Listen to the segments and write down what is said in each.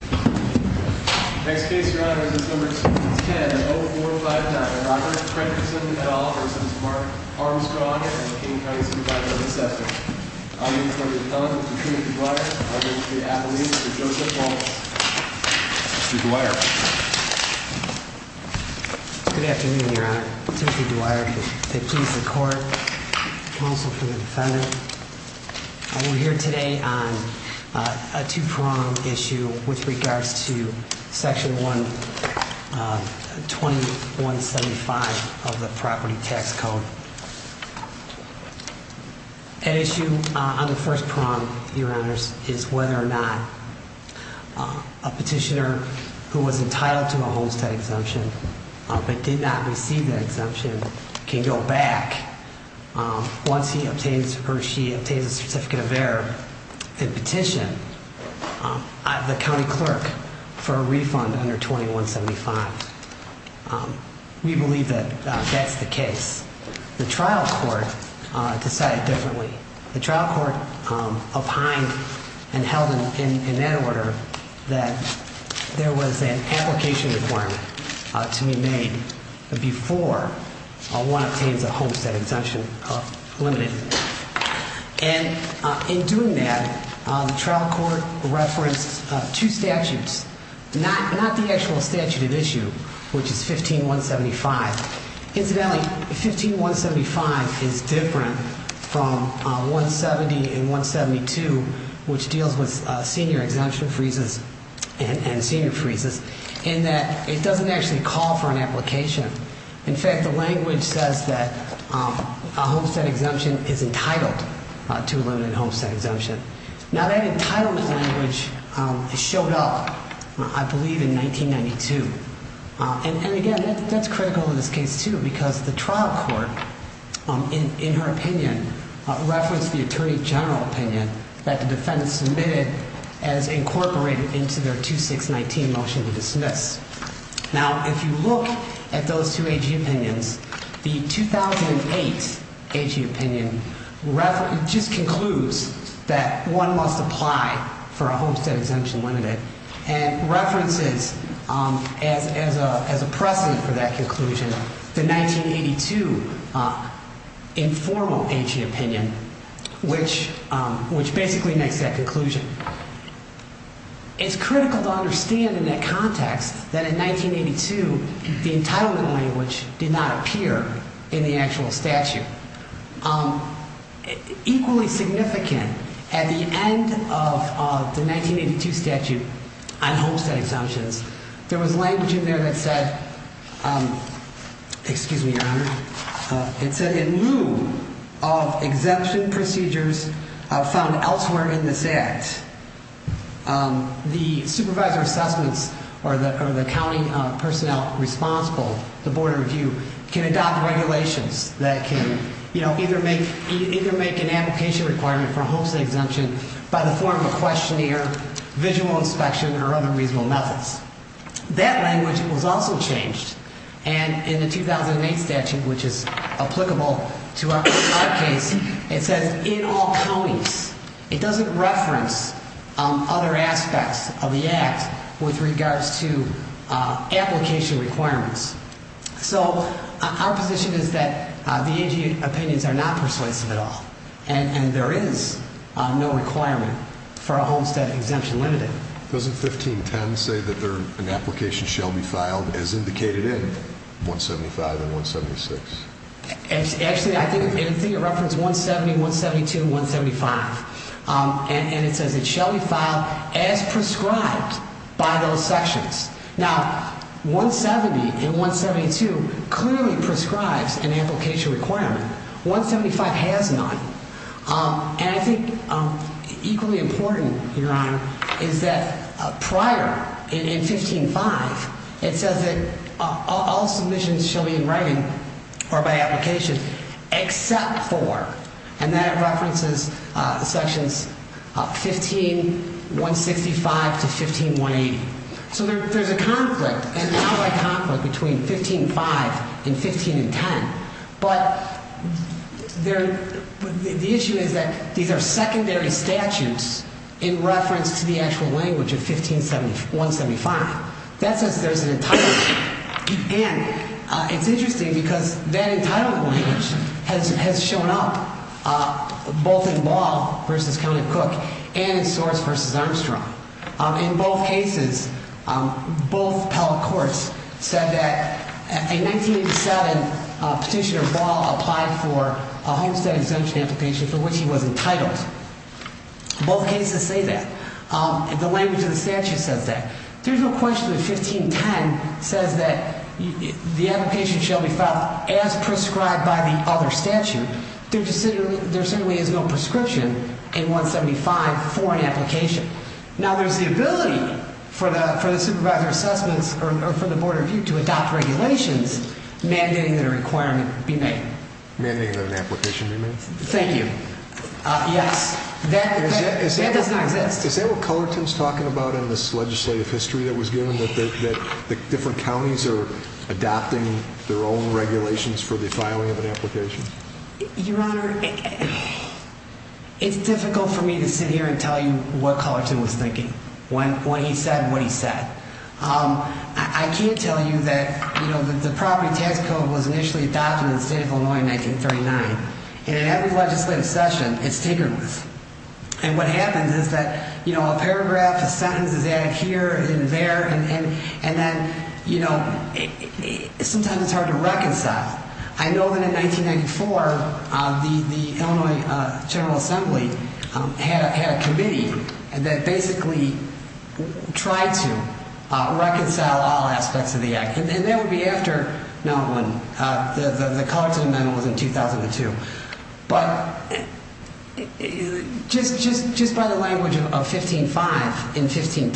Good afternoon, Your Honor. Timothy Dwyer, the accused in court, counsel for the defendant. We're here today on a two prong issue with regards to section 121 75 of the property tax code. An issue on the first prong, Your Honors, is whether or not a petitioner who was entitled to a homestead exemption but did not receive that exemption can go back once he obtains or she obtains a certificate of error and petition the county clerk for a refund under 21 75. We believe that that's the case. The trial court decided differently. The trial court opined and held in that order that there was an application requirement to be made before one obtains a homestead exemption of limited. And in doing that, the trial court referenced two statutes, not the actual statute of issue, which is 15 175. Incidentally, 15 175 is different from 170 and 172, which deals with senior exemption freezes and senior freezes in that it doesn't actually call for an application. In fact, the language says that a homestead exemption is entitled to a limited homestead exemption. Now, that entitlement language showed up, I believe, in 1992. And again, that's critical in this case, too, because the trial court, in her opinion, referenced the attorney general opinion that the defendant submitted as incorporated into their 2619 motion to dismiss. Now, if you look at those two AG opinions, the 2008 AG opinion just concludes that one must apply for a homestead exemption limited and references, as a precedent for that conclusion, the 1982 informal AG opinion, which basically makes that conclusion. It's critical to understand in that context that in 1982, the entitlement language did not appear in the actual statute. Equally significant, at the end of the 1982 statute on homestead exemptions, there was language in there that said, excuse me, Your Honor, it said in lieu of exemption procedures found elsewhere in this Act, the supervisor assessments or the accounting personnel responsible, the Board of Review, can adopt regulations that can either make an application requirement for a homestead exemption by the form of a questionnaire, visual inspection, or other reasonable methods. That language was also changed, and in the 2008 statute, which is applicable to our case, it says in all counties. It doesn't reference other aspects of the Act with regards to application requirements. So our position is that the AG opinions are not persuasive at all, and there is no requirement for a homestead exemption limited. Doesn't 1510 say that an application shall be filed as indicated in 175 and 176? Actually, I think it referenced 170, 172, 175, and it says it shall be filed as prescribed by those sections. Now, 170 and 172 clearly prescribes an application requirement. 175 has none. And I think equally important, Your Honor, is that prior, in 15-5, it says that all submissions shall be in writing or by application except for, and that references sections 15-165 to 15-180. So there's a conflict, an outright conflict, between 15-5 and 15-10, but the issue is that these are secondary statutes in reference to the actual language of 15-175. That says there's an entitlement. And it's interesting because that entitlement language has shown up both in Law v. County Cook and in Source v. Armstrong. In both cases, both appellate courts said that in 1987, Petitioner Ball applied for a homestead exemption application for which he was entitled. Both cases say that. The language of the statute says that. There's no question that 15-10 says that the application shall be filed as prescribed by the other statute. There certainly is no prescription in 15-175 for an application. Now, there's the ability for the Supervisor of Assessments or for the Board of Review to adopt regulations mandating that a requirement be made. Mandating that an application be made? Thank you. Yes. That does not exist. Is that what Cullerton's talking about in this legislative history that was given, that different counties are adopting their own regulations for the filing of an application? Your Honor, it's difficult for me to sit here and tell you what Cullerton was thinking, what he said and what he said. I can't tell you that the property tax code was initially adopted in the state of Illinois in 1939. And in every legislative session, it's tinkered with. And what happens is that a paragraph, a sentence is added here and there, and then sometimes it's hard to reconcile. I know that in 1994, the Illinois General Assembly had a committee that basically tried to reconcile all aspects of the act. And that would be after the Cullerton Amendment was in 2002. But just by the language of 15-5 and 15-10,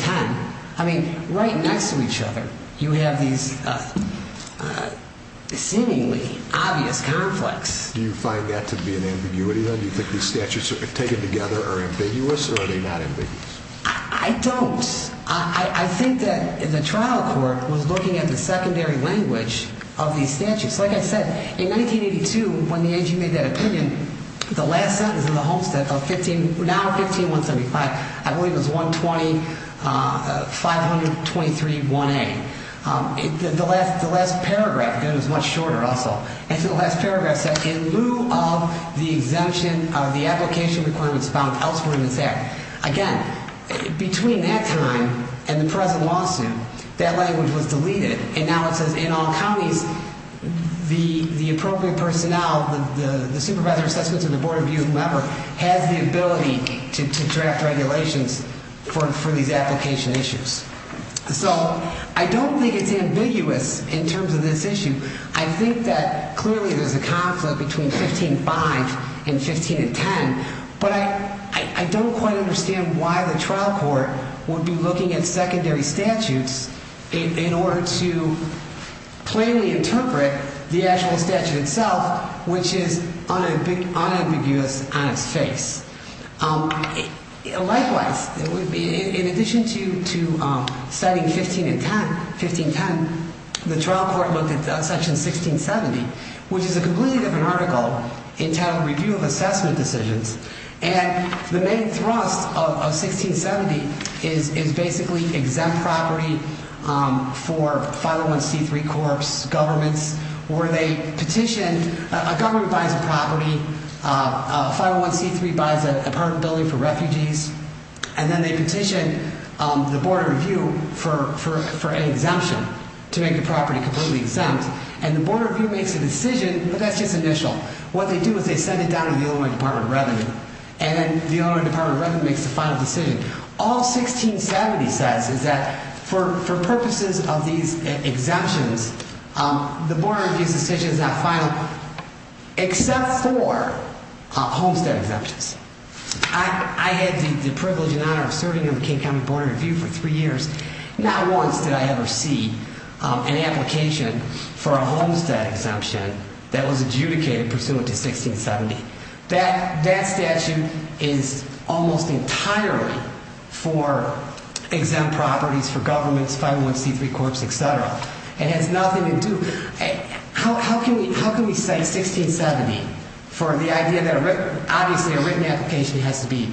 I mean, right next to each other, you have these seemingly obvious conflicts. Do you find that to be an ambiguity, then? Do you think these statutes taken together are ambiguous, or are they not ambiguous? I don't. I think that the trial court was looking at the secondary language of these statutes. Like I said, in 1982, when the AG made that opinion, the last sentence in the homestead, now 15-175, I believe it was 120-523-1A. The last paragraph, and it was much shorter also, the last paragraph said, in lieu of the exemption of the application requirements found elsewhere in this act. Again, between that time and the present lawsuit, that language was deleted. And now it says, in all counties, the appropriate personnel, the supervisor of assessments and the board of view, whoever, has the ability to draft regulations for these application issues. So I don't think it's ambiguous in terms of this issue. I think that clearly there's a conflict between 15-5 and 15-10. But I don't quite understand why the trial court would be looking at secondary statutes in order to plainly interpret the actual statute itself, which is unambiguous on its face. Likewise, in addition to citing 15-10, the trial court looked at section 16-70, which is a completely different article entitled Review of Assessment Decisions. And the main thrust of 16-70 is basically exempt property for 501c3 corps, governments, where they petitioned, a government buys a property, 501c3 buys an apartment building for refugees, and then they petitioned the board of review for an exemption to make the property completely exempt. And the board of review makes a decision, but that's just initial. What they do is they send it down to the Illinois Department of Revenue, and then the Illinois Department of Revenue makes the final decision. All 16-70 says is that for purposes of these exemptions, the board of review's decision is not final except for homestead exemptions. I had the privilege and honor of serving on the King County Board of Review for three years. Not once did I ever see an application for a homestead exemption that was adjudicated pursuant to 16-70. That statute is almost entirely for exempt properties for governments, 501c3 corps, et cetera. It has nothing to do ñ how can we cite 16-70 for the idea that, obviously, a written application has to be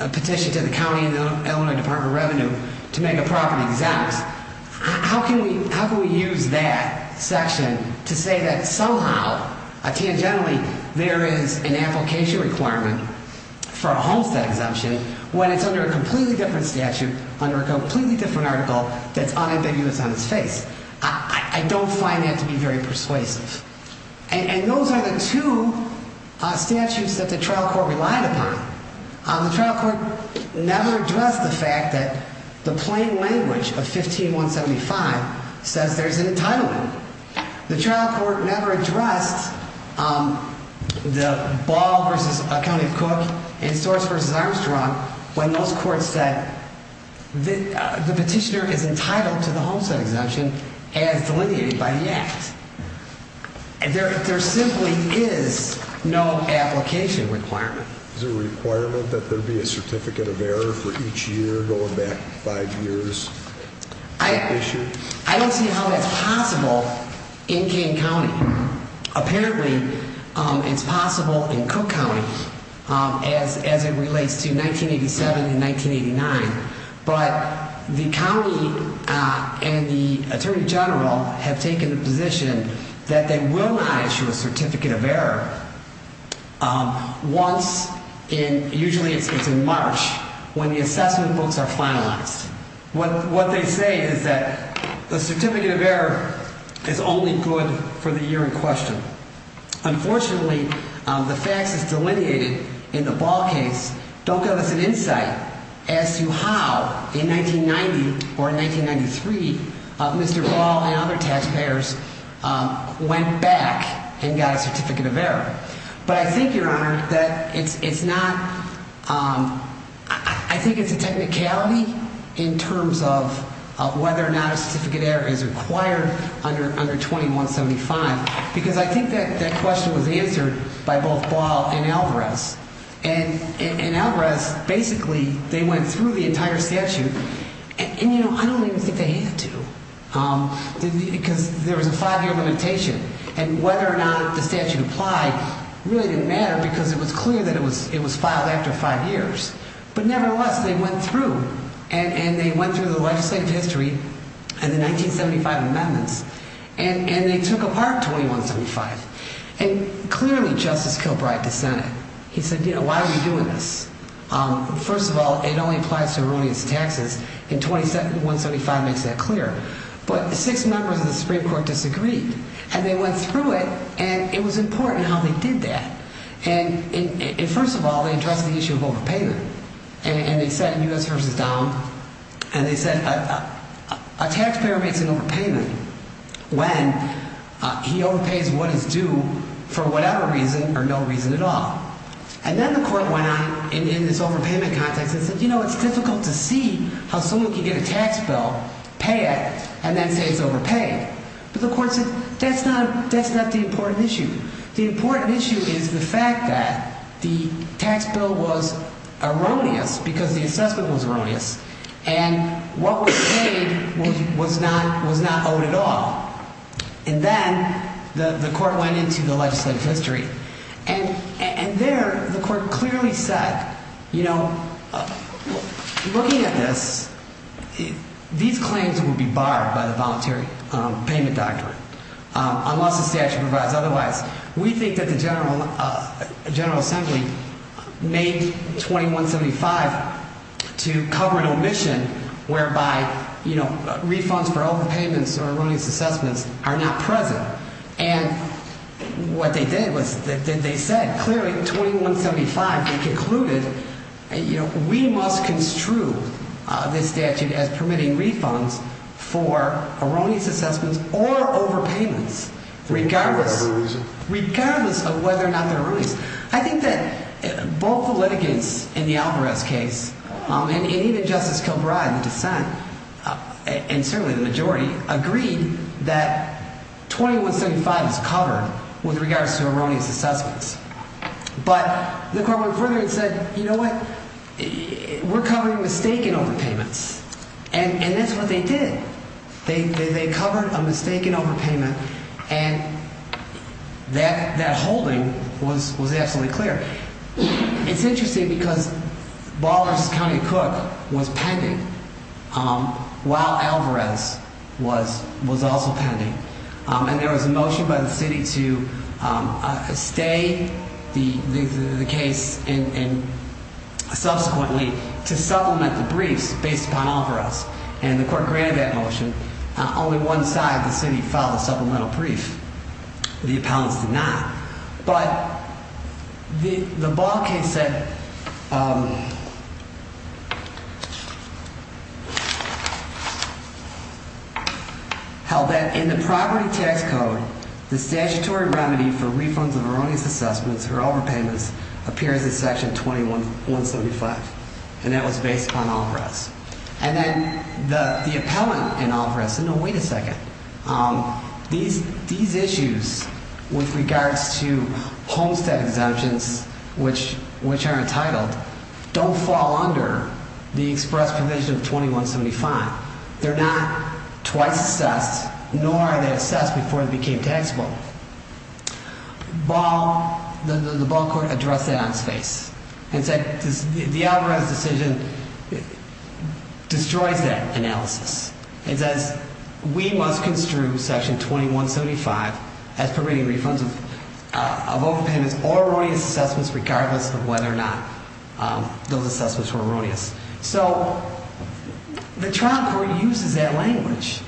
a petition to the county and Illinois Department of Revenue to make a property exempt? How can we use that section to say that somehow, tangentially, there is an application requirement for a homestead exemption when it's under a completely different statute, under a completely different article that's unambiguous on its face? I don't find that to be very persuasive. And those are the two statutes that the trial court relied upon. The trial court never addressed the fact that the plain language of 15175 says there's an entitlement. The trial court never addressed the Ball v. County of Cook and Storrs v. Armstrong when those courts said the petitioner is entitled to the homestead exemption as delineated by the Act. There simply is no application requirement. Is there a requirement that there be a certificate of error for each year going back five years? I don't see how that's possible in King County. Apparently, it's possible in Cook County as it relates to 1987 and 1989. But the county and the attorney general have taken the position that they will not issue a certificate of error once in, usually it's in March, when the assessment books are finalized. What they say is that the certificate of error is only good for the year in question. Unfortunately, the facts as delineated in the Ball case don't give us an insight as to how, in 1990 or 1993, Mr. Ball and other taxpayers went back and got a certificate of error. But I think, Your Honor, that it's not, I think it's a technicality in terms of whether or not a certificate of error is required under 2175. Because I think that question was answered by both Ball and Alvarez. And in Alvarez, basically, they went through the entire statute. And, you know, I don't even think they had to because there was a five-year limitation. And whether or not the statute applied really didn't matter because it was clear that it was filed after five years. But nevertheless, they went through. And they went through the legislative history and the 1975 amendments. And they took apart 2175. And clearly, Justice Kilbride dissented. He said, you know, why are we doing this? First of all, it only applies to erroneous taxes. And 2175 makes that clear. But six members of the Supreme Court disagreed. And they went through it. And it was important how they did that. And first of all, they addressed the issue of overpayment. And they said in U.S. v. Donald, and they said a taxpayer makes an overpayment when he overpays what is due for whatever reason or no reason at all. And then the court went on in this overpayment context and said, you know, it's difficult to see how someone can get a tax bill, pay it, and then say it's overpaid. But the court said that's not the important issue. The important issue is the fact that the tax bill was erroneous because the assessment was erroneous. And what was paid was not owed at all. And then the court went into the legislative history. And there the court clearly said, you know, looking at this, these claims will be barred by the voluntary payment doctrine unless the statute provides otherwise. We think that the General Assembly made 2175 to cover an omission whereby, you know, refunds for all the payments or erroneous assessments are not present. And what they did was they said clearly in 2175 they concluded, you know, we must construe this statute as permitting refunds for erroneous assessments or overpayments regardless of whether or not they're erroneous. I think that both the litigants in the Alvarez case and even Justice Kilbride in the dissent and certainly the majority agreed that 2175 is covered with regards to erroneous assessments. But the court went further and said, you know what, we're covering mistaken overpayments. And that's what they did. They covered a mistaken overpayment. And that holding was absolutely clear. It's interesting because Ballers County Cook was pending while Alvarez was also pending. And there was a motion by the city to stay the case and subsequently to supplement the briefs based upon Alvarez. And the court granted that motion. Only one side of the city filed a supplemental brief. The appellants did not. But the Ball case said held that in the property tax code, the statutory remedy for refunds of erroneous assessments or overpayments appears in Section 2175. And that was based upon Alvarez. And then the appellant in Alvarez said, no, wait a second. These issues with regards to homestead exemptions, which are entitled, don't fall under the express provision of 2175. They're not twice assessed, nor are they assessed before they became taxable. The Ball court addressed that on its face and said the Alvarez decision destroys that analysis. It says we must construe Section 2175 as permitting refunds of overpayments or erroneous assessments regardless of whether or not those assessments were erroneous. So the trial court uses that language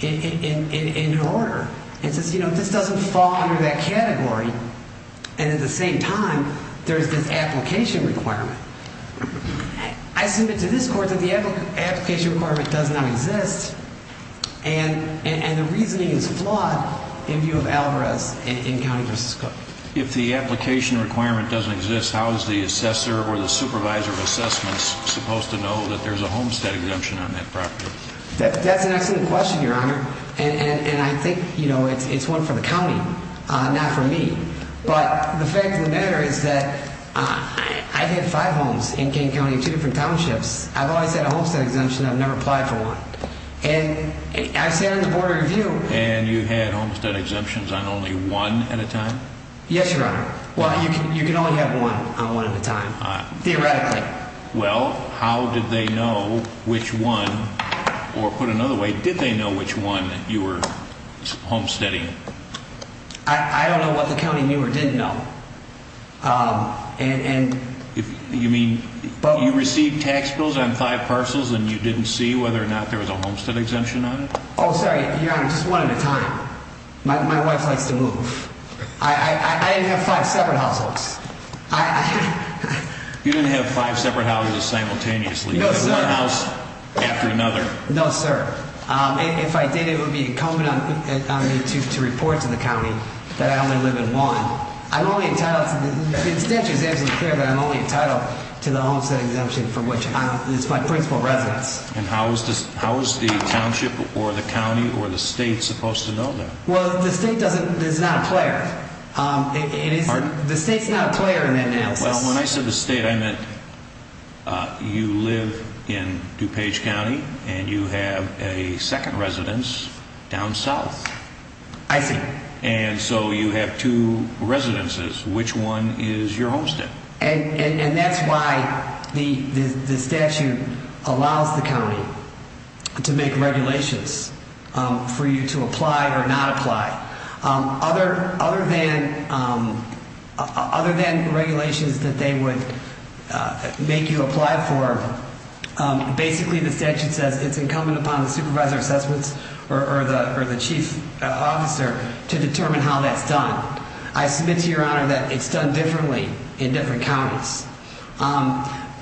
in order. It says, you know, this doesn't fall under that category. And at the same time, there's this application requirement. I submit to this court that the application requirement does not exist. And the reasoning is flawed in view of Alvarez in County v. Cook. If the application requirement doesn't exist, how is the assessor or the supervisor of assessments supposed to know that there's a homestead exemption on that property? That's an excellent question, Your Honor. And I think, you know, it's one for the county, not for me. But the fact of the matter is that I've had five homes in King County, two different townships. I've always had a homestead exemption. I've never applied for one. And I've sat on the Board of Review. And you've had homestead exemptions on only one at a time? Yes, Your Honor. Well, you can only have one on one at a time, theoretically. Well, how did they know which one, or put another way, did they know which one you were homesteading? I don't know what the county knew or didn't know. You mean you received tax bills on five parcels and you didn't see whether or not there was a homestead exemption on it? Oh, sorry, Your Honor, just one at a time. My wife likes to move. I didn't have five separate households. You didn't have five separate houses simultaneously. You had one house after another. No, sir. If I did, it would be incumbent on me to report to the county that I only live in one. I'm only entitled to the – the statute is absolutely clear that I'm only entitled to the homestead exemption for which it's my principal residence. And how is the township or the county or the state supposed to know that? Well, the state doesn't – is not a player. The state's not a player in that analysis. Well, when I said the state, I meant you live in DuPage County and you have a second residence down south. I see. And so you have two residences. Which one is your homestead? And that's why the statute allows the county to make regulations for you to apply or not apply. Other than regulations that they would make you apply for, basically the statute says it's incumbent upon the supervisor of assessments or the chief officer to determine how that's done. I submit to your honor that it's done differently in different counties.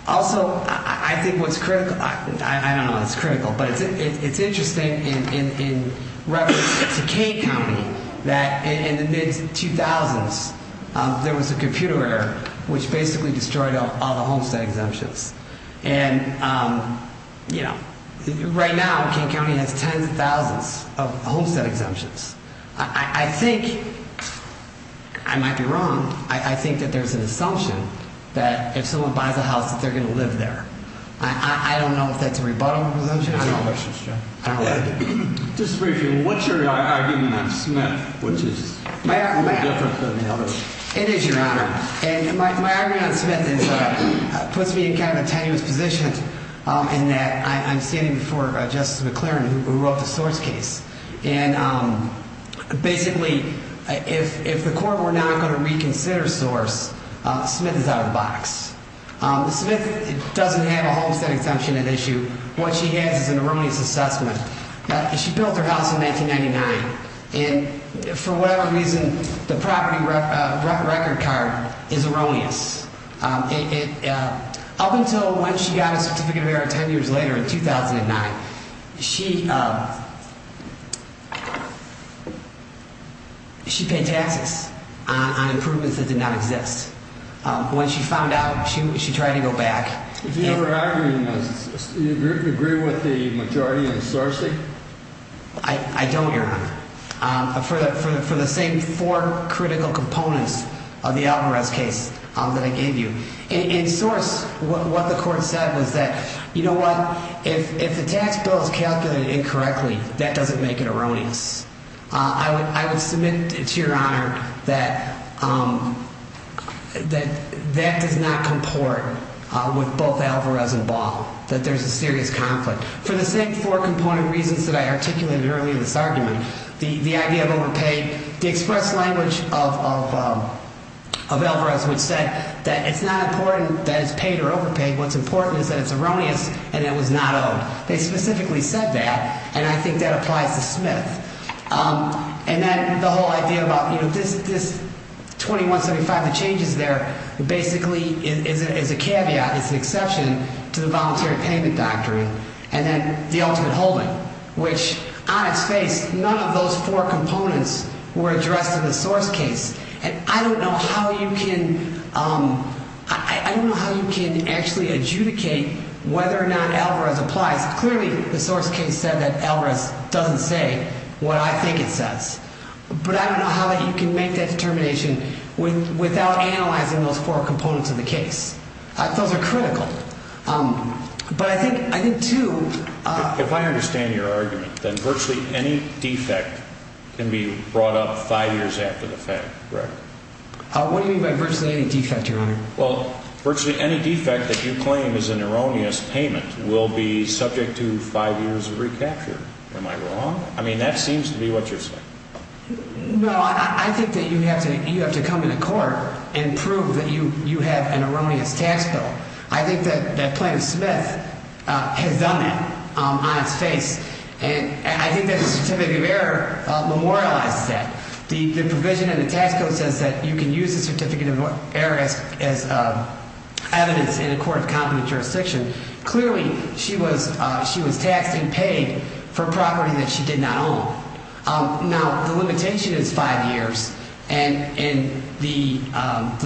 Also, I think what's critical – I don't know if it's critical, but it's interesting in reference to Kane County that in the mid-2000s there was a computer error which basically destroyed all the homestead exemptions. And, you know, right now Kane County has tens of thousands of homestead exemptions. I think – I might be wrong – I think that there's an assumption that if someone buys a house that they're going to live there. I don't know if that's a rebuttal assumption. I don't know. I don't like it. Just briefly, what's your argument on Smith, which is a little different than others? It is, your honor. My argument on Smith puts me in kind of a tenuous position in that I'm standing before Justice McClaren who wrote the Source case. And basically if the court were not going to reconsider Source, Smith is out of the box. Smith doesn't have a homestead exemption at issue. What she has is an erroneous assessment. She built her house in 1999, and for whatever reason the property record card is erroneous. Up until when she got a certificate of error ten years later in 2009, she paid taxes on improvements that did not exist. When she found out, she tried to go back. Do you agree with the majority in Source? I don't, your honor. For the same four critical components of the Alvarez case that I gave you. In Source, what the court said was that, you know what, if the tax bill is calculated incorrectly, that doesn't make it erroneous. I would submit to your honor that that does not comport with both Alvarez and Ball. That there's a serious conflict. For the same four component reasons that I articulated earlier in this argument. The idea of overpaid, the express language of Alvarez which said that it's not important that it's paid or overpaid. What's important is that it's erroneous and that it was not owed. They specifically said that, and I think that applies to Smith. And then the whole idea about this 2175, the changes there, basically is a caveat. It's an exception to the voluntary payment doctrine. And then the ultimate holding, which on its face, none of those four components were addressed in the Source case. And I don't know how you can actually adjudicate whether or not Alvarez applies. Clearly, the Source case said that Alvarez doesn't say what I think it says. But I don't know how you can make that determination without analyzing those four components of the case. Those are critical. If I understand your argument, then virtually any defect can be brought up five years after the fact, correct? What do you mean by virtually any defect, Your Honor? Well, virtually any defect that you claim is an erroneous payment will be subject to five years of recapture. Am I wrong? I mean, that seems to be what you're saying. No, I think that you have to come into court and prove that you have an erroneous tax bill. I think that Plaintiff Smith has done that on its face. And I think that the Certificate of Error memorializes that. The provision in the tax code says that you can use the Certificate of Error as evidence in a court of competent jurisdiction. Clearly, she was taxed and paid for property that she did not own. Now, the limitation is five years. And the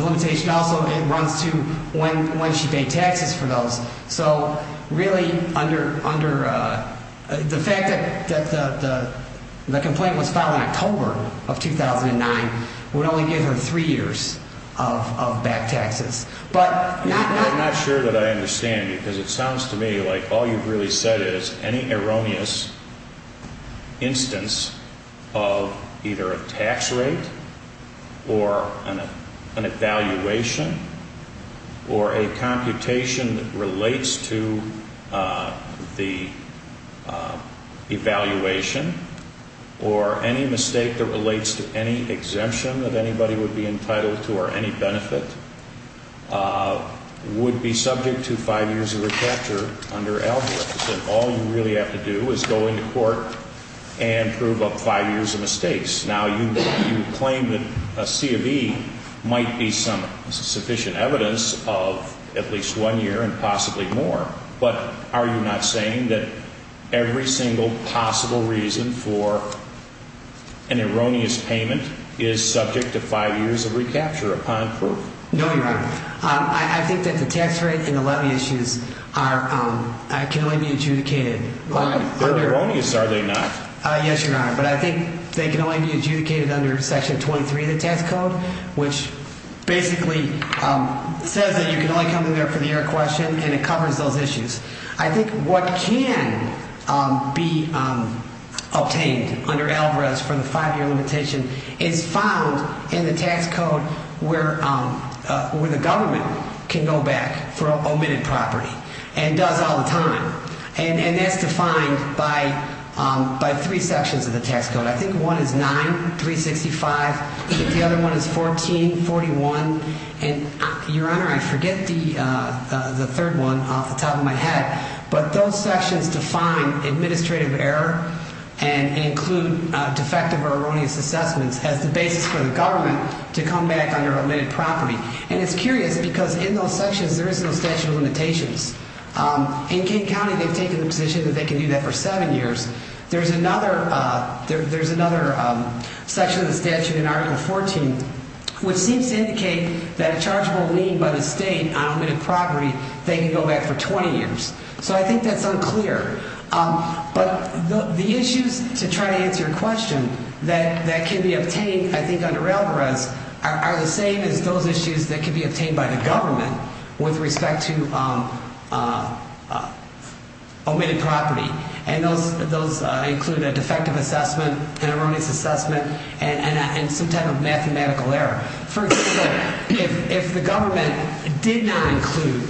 limitation also runs to when she paid taxes for those. So, really, under the fact that the complaint was filed in October of 2009 would only give her three years of back taxes. I'm not sure that I understand you because it sounds to me like all you've really said is any erroneous instance of either a tax rate or an evaluation or a computation that relates to the evaluation or any mistake that relates to any exemption that anybody would be entitled to or any benefit would be subject to five years of recapture under Algorithms. And all you really have to do is go into court and prove up five years of mistakes. Now, you claim that a C of E might be some sufficient evidence of at least one year and possibly more. But are you not saying that every single possible reason for an erroneous payment is subject to five years of recapture upon proof? No, Your Honor. I think that the tax rate and the levy issues can only be adjudicated. They're erroneous, are they not? Yes, Your Honor. But I think they can only be adjudicated under Section 23 of the tax code, which basically says that you can only come in there for the error question and it covers those issues. I think what can be obtained under Algorithms for the five-year limitation is found in the tax code where the government can go back for omitted property and does all the time. And that's defined by three sections of the tax code. I think one is 9, 365. I think the other one is 14, 41. And, Your Honor, I forget the third one off the top of my head. But those sections define administrative error and include defective or erroneous assessments as the basis for the government to come back under omitted property. And it's curious because in those sections there is no statute of limitations. In King County they've taken the position that they can do that for seven years. There's another section of the statute in Article 14, which seems to indicate that a chargeable lien by the state on omitted property, they can go back for 20 years. So I think that's unclear. But the issues to try to answer your question that can be obtained, I think, under Algorithms are the same as those issues that can be obtained by the government with respect to omitted property. And those include a defective assessment, an erroneous assessment, and some type of mathematical error. For example, if the government did not include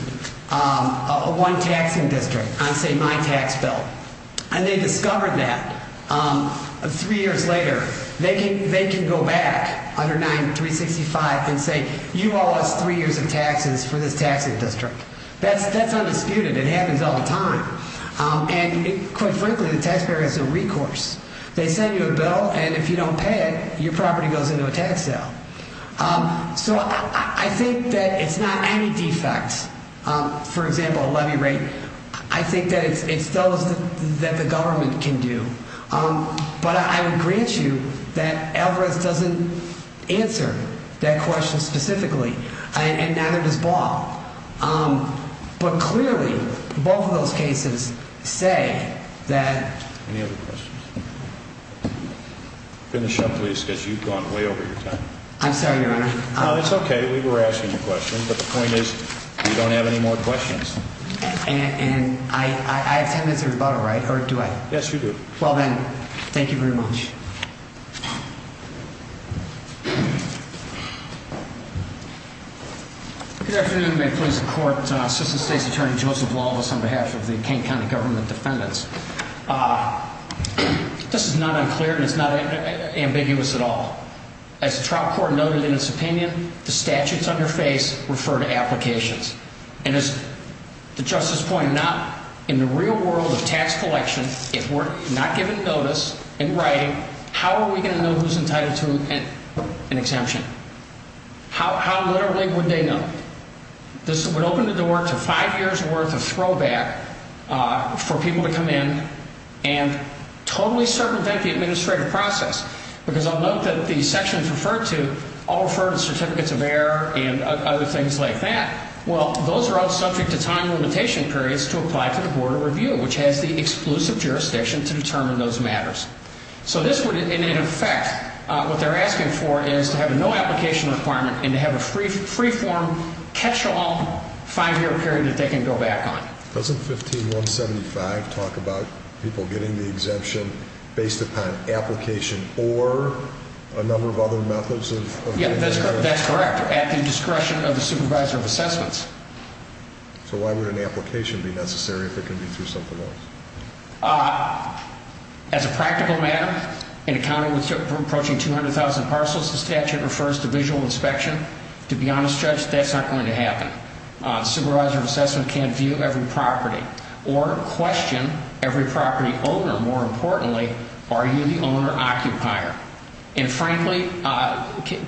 one taxing district on, say, my tax bill and they discovered that three years later, they can go back under 9, 365 and say, you owe us three years of taxes for this taxing district. That's undisputed. It happens all the time. And quite frankly, the taxpayer has a recourse. They send you a bill, and if you don't pay it, your property goes into a tax sale. So I think that it's not any defects. For example, a levy rate. I think that it's those that the government can do. But I would grant you that Algorithms doesn't answer that question specifically. And neither does Ball. But clearly, both of those cases say that. Any other questions? Finish up, please, because you've gone way over your time. I'm sorry, Your Honor. It's okay. We were asking you questions. But the point is, we don't have any more questions. And I have 10 minutes of rebuttal, right? Or do I? Yes, you do. Well, then, thank you very much. Thank you. Good afternoon. May it please the Court. Assistant State's Attorney Joseph Lalvas on behalf of the King County government defendants. This is not unclear, and it's not ambiguous at all. As the trial court noted in its opinion, the statutes on your face refer to applications. And as the Justice pointed out, in the real world of tax collection, if we're not given notice in writing, how are we going to know who's entitled to an exemption? How literally would they know? This would open the door to five years' worth of throwback for people to come in and totally circumvent the administrative process. Because I'll note that the sections referred to all refer to certificates of error and other things like that. Well, those are all subject to time limitation periods to apply to the Board of Review, which has the exclusive jurisdiction to determine those matters. So this would, in effect, what they're asking for is to have a no-application requirement and to have a free-form catch-all five-year period that they can go back on. Doesn't 15175 talk about people getting the exemption based upon application or a number of other methods of getting the exemption? Yeah, that's correct, at the discretion of the supervisor of assessments. So why would an application be necessary if it can be through something else? As a practical matter, in a county with approaching 200,000 parcels, the statute refers to visual inspection. To be honest, Judge, that's not going to happen. Supervisor of assessment can't view every property or question every property owner. More importantly, are you the owner-occupier? And, frankly,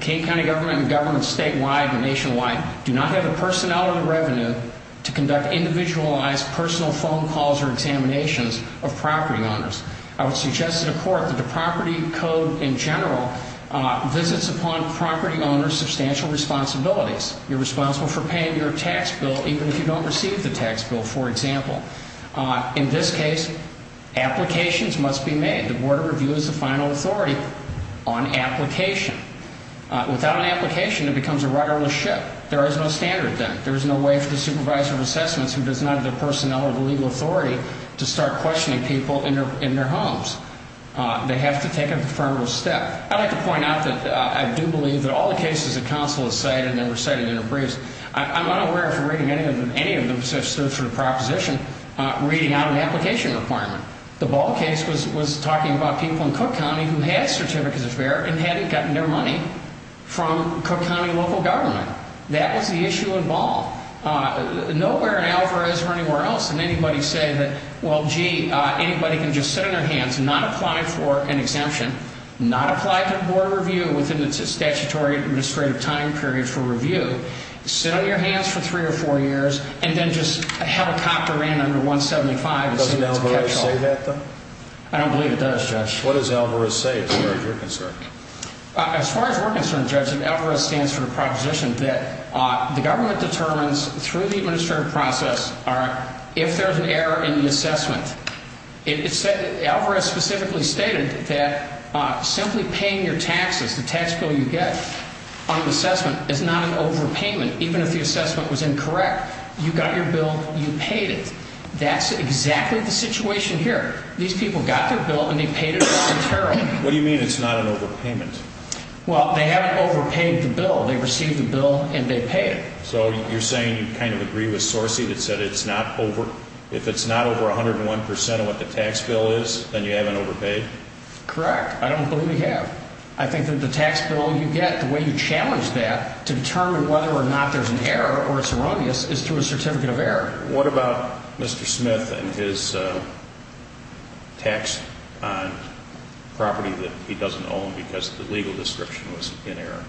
King County government and governments statewide and nationwide do not have the personnel or the revenue to conduct individualized personal phone calls or examinations of property owners. I would suggest to the Court that the property code in general visits upon property owners' substantial responsibilities. You're responsible for paying your tax bill even if you don't receive the tax bill, for example. In this case, applications must be made. The Board of Review is the final authority on application. Without an application, it becomes a rudderless ship. There is no standard then. There is no way for the supervisor of assessments who does not have the personnel or the legal authority to start questioning people in their homes. They have to take a preferable step. I'd like to point out that I do believe that all the cases that counsel has cited and that were cited in their briefs, I'm unaware of reading any of them since there's no sort of proposition reading out an application requirement. The Ball case was talking about people in Cook County who had certificates of fair and hadn't gotten their money from Cook County local government. That was the issue in Ball. Nowhere in Alvarez or anywhere else did anybody say that, well, gee, anybody can just sit on their hands, not apply for an exemption, not apply to Board of Review within the statutory administrative time period for review, sit on your hands for three or four years, and then just have a copter ran under 175 and see what's kept on. Doesn't Alvarez say that, though? I don't believe it does, Judge. What does Alvarez say as far as you're concerned? As far as we're concerned, Judge, Alvarez stands for the proposition that the government determines through the administrative process are if there's an error in the assessment. Alvarez specifically stated that simply paying your taxes, the tax bill you get on the assessment, is not an overpayment even if the assessment was incorrect. You got your bill, you paid it. That's exactly the situation here. These people got their bill and they paid it arbitrarily. What do you mean it's not an overpayment? Well, they haven't overpaid the bill. They received the bill and they paid it. So you're saying you kind of agree with Sorcey that said if it's not over 101 percent of what the tax bill is, then you haven't overpaid? Correct. I don't believe we have. I think that the tax bill you get, the way you challenge that to determine whether or not there's an error or it's erroneous is through a certificate of error. What about Mr. Smith and his tax on property that he doesn't own because the legal description was in error?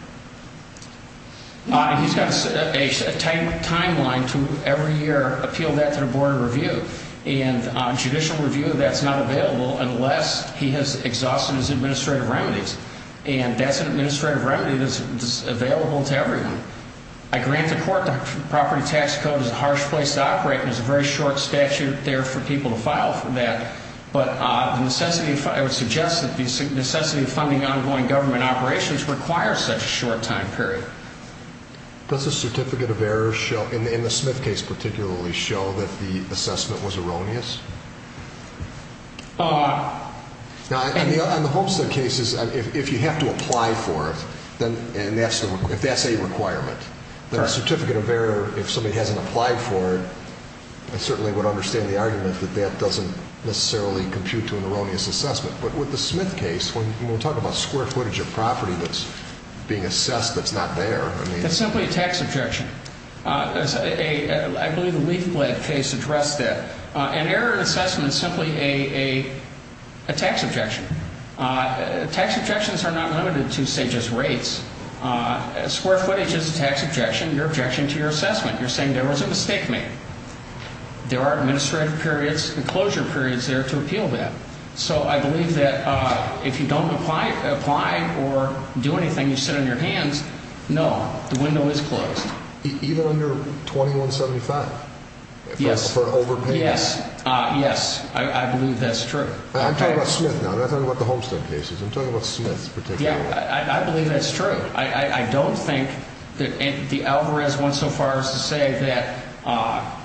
He's got a timeline to every year appeal that to the Board of Review. And judicial review of that is not available unless he has exhausted his administrative remedies. And that's an administrative remedy that's available to everyone. I grant the court that the property tax code is a harsh place to operate and there's a very short statute there for people to file for that. But I would suggest that the necessity of funding ongoing government operations requires such a short time period. Does the certificate of error in the Smith case particularly show that the assessment was erroneous? In the Homestead cases, if you have to apply for it, if that's a requirement, then a certificate of error, if somebody hasn't applied for it, I certainly would understand the argument that that doesn't necessarily compute to an erroneous assessment. But with the Smith case, when we're talking about square footage of property that's being assessed that's not there, I mean. It's simply a tax objection. I believe the Leaf Blank case addressed that. An error in assessment is simply a tax objection. Tax objections are not limited to, say, just rates. Square footage is a tax objection, your objection to your assessment. You're saying there was a mistake made. There are administrative periods and closure periods there to appeal that. So I believe that if you don't apply or do anything, you sit on your hands. No, the window is closed. Even under 2175? Yes. For an overpayment? Yes. Yes, I believe that's true. I'm talking about Smith now. I'm not talking about the Homestead cases. I'm talking about Smith particularly. I believe that's true. I don't think that the Alvarez went so far as to say that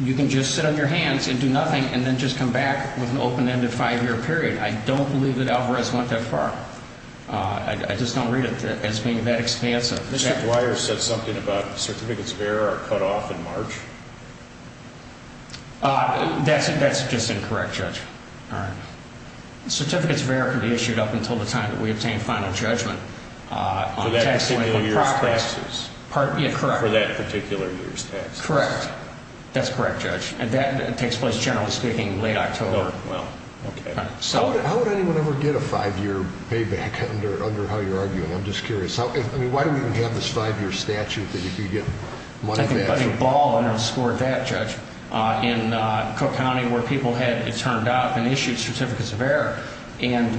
you can just sit on your hands and do nothing and then just come back with an open-ended five-year period. I don't believe that Alvarez went that far. I just don't read it as being that expansive. Mr. Dwyer said something about certificates of error are cut off in March. That's just incorrect, Judge. Certificates of error can be issued up until the time that we obtain final judgment. For that particular year's taxes? Correct. For that particular year's taxes? Correct. That's correct, Judge. And that takes place, generally speaking, late October. Well, okay. How would anyone ever get a five-year payback under how you're arguing? I'm just curious. I mean, why do we even have this five-year statute that you get money back? I think Buddy Ball underscored that, Judge. In Cook County, where people had turned up and issued certificates of error, and,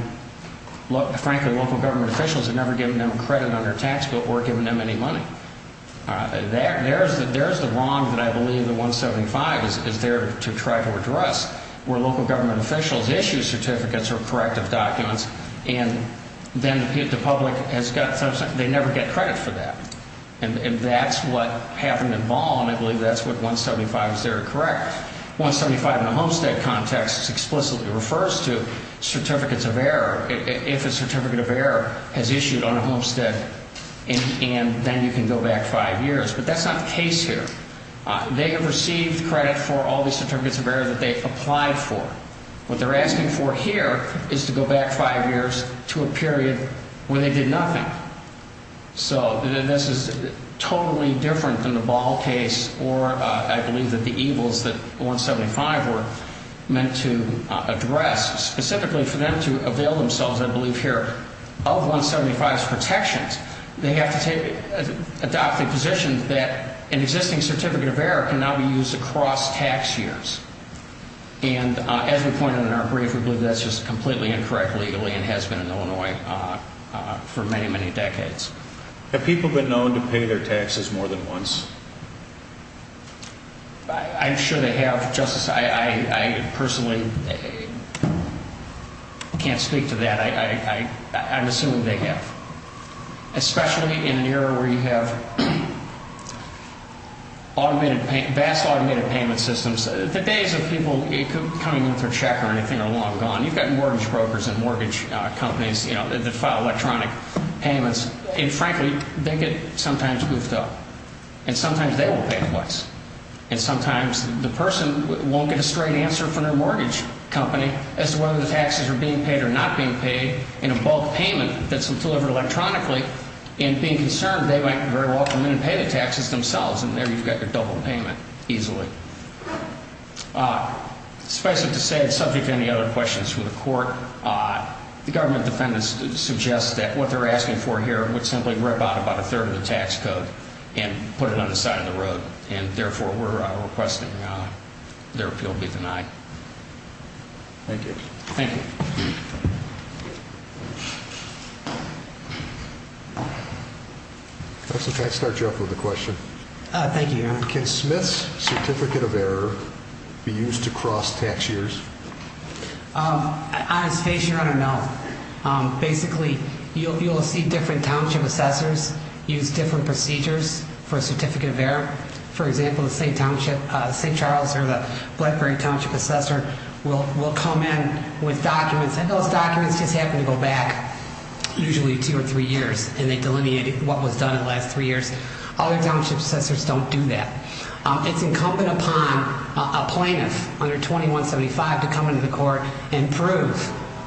frankly, local government officials had never given them credit on their tax bill or given them any money. There's the wrong that I believe the 175 is there to try to address, where local government officials issue certificates or corrective documents, and then the public has got something. They never get credit for that. And that's what happened in Ball, and I believe that's what 175 is there to correct. 175 in the homestead context explicitly refers to certificates of error. If a certificate of error is issued on a homestead, and then you can go back five years. But that's not the case here. They have received credit for all these certificates of error that they applied for. What they're asking for here is to go back five years to a period where they did nothing. So this is totally different than the Ball case, or I believe that the evils that 175 were meant to address. Specifically for them to avail themselves, I believe here, of 175's protections, they have to adopt the position that an existing certificate of error can now be used across tax years. And as we pointed out in our brief, we believe that's just completely incorrect legally and has been in Illinois for many, many decades. Have people been known to pay their taxes more than once? I'm sure they have, Justice. I personally can't speak to that. I'm assuming they have, especially in an era where you have vast automated payment systems. The days of people coming in with their check or anything are long gone. You've got mortgage brokers and mortgage companies that file electronic payments. And frankly, they get sometimes goofed up. And sometimes they won't pay twice. And sometimes the person won't get a straight answer from their mortgage company as to whether the taxes are being paid or not being paid. And a bulk payment that's delivered electronically, and being concerned they might very well come in and pay the taxes themselves, and there you've got your double payment easily. Suffice it to say, subject to any other questions from the court, the government defendants suggest that what they're asking for here would simply rip out about a third of the tax code and put it on the side of the road. And therefore, we're requesting their appeal be denied. Thank you. Thank you. Counsel, can I start you off with a question? Thank you, Your Honor. Can Smith's certificate of error be used to cross tax years? On its face, Your Honor, no. Basically, you'll see different township assessors use different procedures for a certificate of error. For example, the St. Charles or the Blackberry township assessor will come in with documents, and those documents just happen to go back usually two or three years, and they delineate what was done in the last three years. All the township assessors don't do that. It's incumbent upon a plaintiff under 2175 to come into the court and prove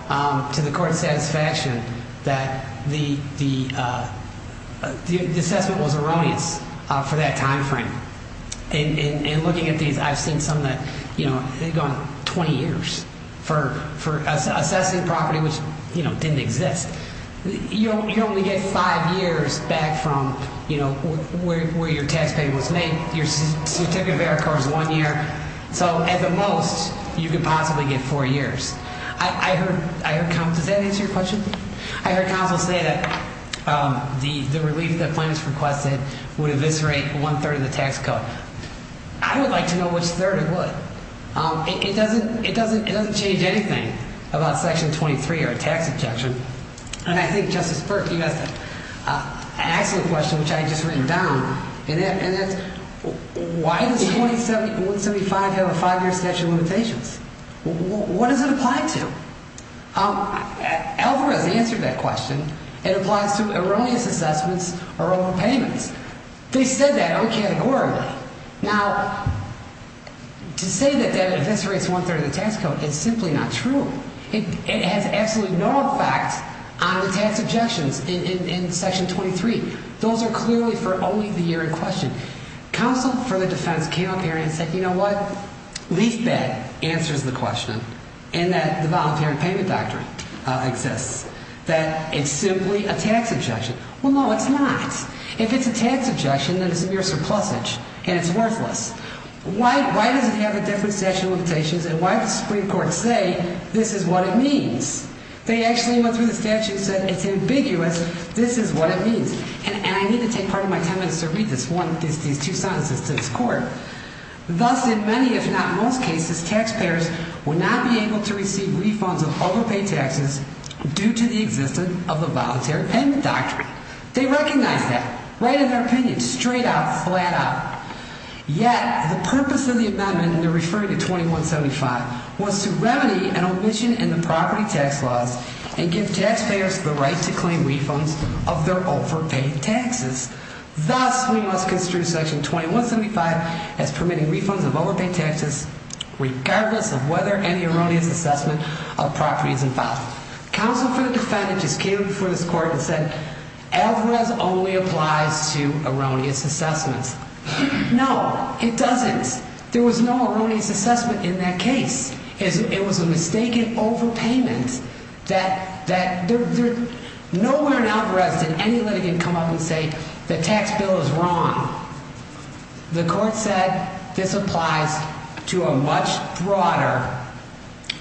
to the court's satisfaction that the assessment was erroneous for that time frame. In looking at these, I've seen some that have gone 20 years for assessing property which didn't exist. You only get five years back from where your tax payment was made. Your certificate of error occurs one year. So at the most, you could possibly get four years. Does that answer your question? I heard counsel say that the relief that plaintiffs requested would eviscerate one-third of the tax code. I would like to know which third it would. It doesn't change anything about Section 23 or a tax objection. And I think, Justice Burke, you asked a question which I had just written down, and that's why does 2175 have a five-year statute of limitations? What does it apply to? Alvarez answered that question. It applies to erroneous assessments or overpayments. They said that categorically. Now, to say that that eviscerates one-third of the tax code is simply not true. It has absolutely no effect on the tax objections in Section 23. Those are clearly for only the year in question. Counsel for the defense came up here and said, you know what, least bad answers the question in that the voluntary payment doctrine exists, that it's simply a tax objection. Well, no, it's not. If it's a tax objection, then it's a mere surplusage, and it's worthless. Why does it have a different statute of limitations, and why does the Supreme Court say this is what it means? They actually went through the statute and said it's ambiguous, this is what it means. And I need to take part of my time in this to read these two sentences to this Court. Thus, in many, if not most cases, taxpayers will not be able to receive refunds of overpaid taxes due to the existence of the voluntary payment doctrine. They recognize that, right in their opinion, straight out, flat out. Yet, the purpose of the amendment, and they're referring to 2175, was to remedy an omission in the property tax laws and give taxpayers the right to claim refunds of their overpaid taxes. Thus, we must construe Section 2175 as permitting refunds of overpaid taxes regardless of whether any erroneous assessment of property is involved. Counsel for the Defendant just came before this Court and said, Alvarez only applies to erroneous assessments. No, it doesn't. There was no erroneous assessment in that case. It was a mistaken overpayment. Nowhere in Alvarez did any litigant come up and say the tax bill is wrong. The Court said this applies to a much broader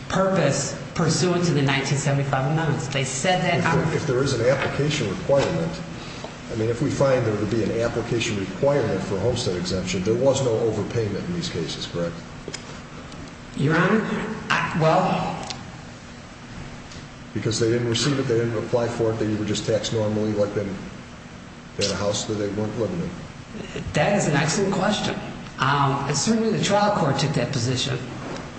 purpose pursuant to the 1975 amendments. They said that. If there is an application requirement, I mean, if we find there to be an application requirement for homestead exemption, there was no overpayment in these cases, correct? Your Honor, well... Because they didn't receive it, they didn't apply for it, they were just taxed normally like the house that they weren't living in. That is an excellent question. Certainly the trial court took that position.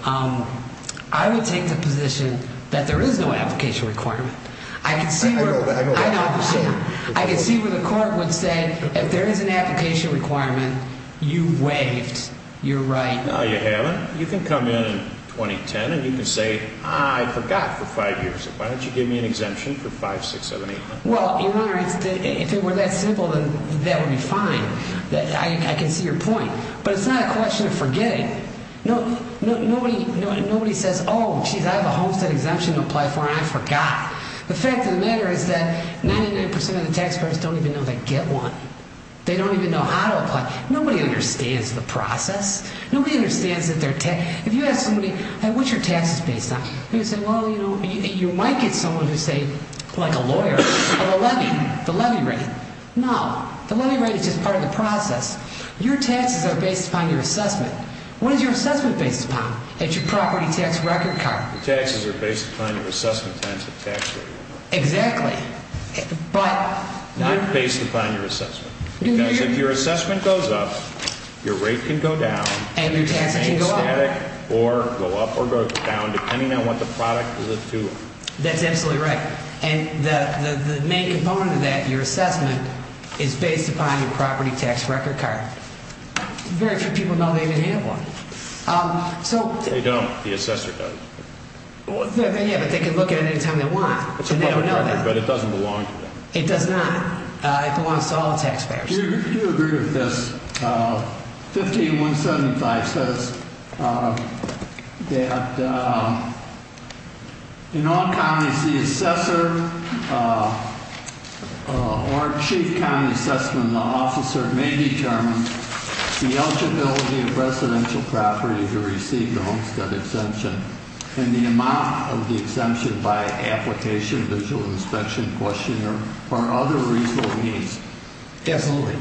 I would take the position that there is no application requirement. I know that. I can see where the Court would say, if there is an application requirement, you waived your right. No, you haven't. You can come in in 2010 and you can say, I forgot for five years. Why don't you give me an exemption for 5, 6, 7, 8 months? Well, Your Honor, if it were that simple, that would be fine. I can see your point. But it's not a question of forgetting. Nobody says, oh, jeez, I have a homestead exemption to apply for and I forgot. The fact of the matter is that 99% of the taxpayers don't even know they get one. They don't even know how to apply. Nobody understands the process. Nobody understands that they're taxed. If you ask somebody, what's your taxes based on? They would say, well, you know, you might get someone who's, say, like a lawyer, of a levy, the levy rate. No. The levy rate is just part of the process. Your taxes are based upon your assessment. What is your assessment based upon? It's your property tax record card. Your taxes are based upon your assessment and your tax record. Exactly. But. Not based upon your assessment. Because if your assessment goes up, your rate can go down. And your taxes can go up. Or go up or go down, depending on what the product is due. That's absolutely right. And the main component of that, your assessment, is based upon your property tax record card. Very few people know they even have one. They don't. The assessor does. Yeah, but they can look at it any time they want. It's a public record, but it doesn't belong to them. It does not. It belongs to all the taxpayers. Do you agree with this? 15.175 says that in all counties, the assessor or chief county assessment officer may determine the eligibility of residential property to receive the Homestead exemption. And the amount of the exemption by application, visual inspection, questionnaire, or other reasonable means. Absolutely.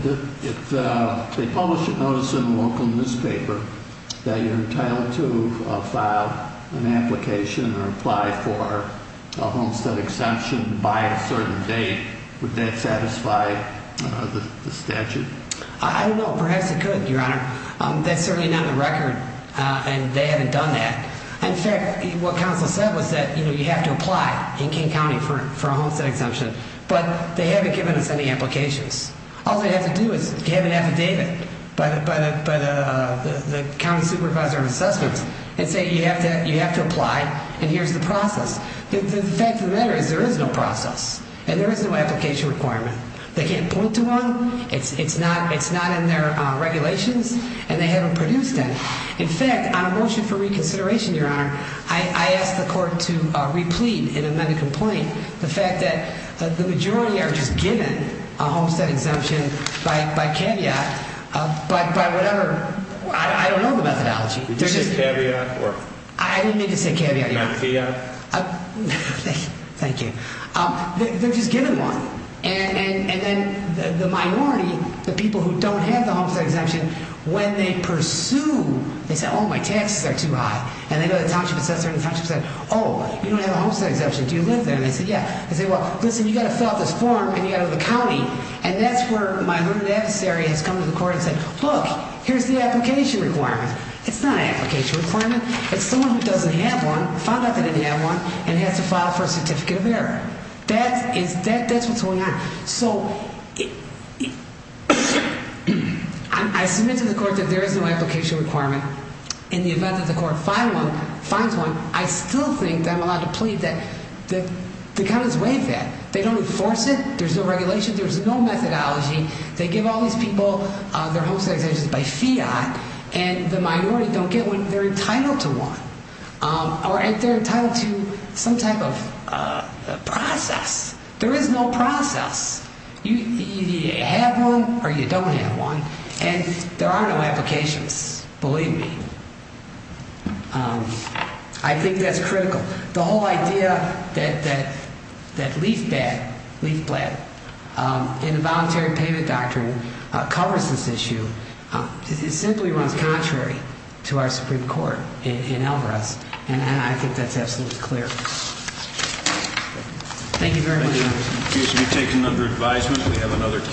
If they publish a notice in a local newspaper that you're entitled to file an application or apply for a Homestead exemption by a certain date, would that satisfy the statute? I don't know. Perhaps it could, Your Honor. That's certainly not on the record, and they haven't done that. In fact, what counsel said was that you have to apply in King County for a Homestead exemption, but they haven't given us any applications. All they have to do is have an affidavit by the county supervisor of assessments and say you have to apply, and here's the process. The fact of the matter is there is no process, and there is no application requirement. They can't point to one. It's not in their regulations, and they haven't produced it. In fact, on a motion for reconsideration, Your Honor, I asked the court to replete and amend a complaint. The fact that the majority are just given a Homestead exemption by caveat, but by whatever ‑‑ I don't know the methodology. Did you say caveat? I didn't mean to say caveat, Your Honor. Mathia? Thank you. They're just given one. And then the minority, the people who don't have the Homestead exemption, when they pursue, they say, oh, my taxes are too high. And they go to the township assessor, and the township says, oh, you don't have a Homestead exemption. Do you live there? And they say, yeah. They say, well, listen, you've got to fill out this form, and you've got to go to the county. And that's where my learned adversary has come to the court and said, look, here's the application requirement. It's not an application requirement. It's someone who doesn't have one, found out they didn't have one, and has to file for a certificate of error. That's what's going on. So I submit to the court that there is no application requirement. In the event that the court finds one, I still think that I'm allowed to plead that the counties waive that. They don't enforce it. There's no regulation. There's no methodology. They give all these people their Homestead exemptions by fiat, and the minority don't get one. They're entitled to one, or they're entitled to some type of process. There is no process. You either have one or you don't have one, and there are no applications, believe me. I think that's critical. The whole idea that LEAFBAD, LEAFBLAD, involuntary payment doctrine covers this issue simply runs contrary to our Supreme Court in Alvarez, and I think that's absolutely clear. Thank you very much.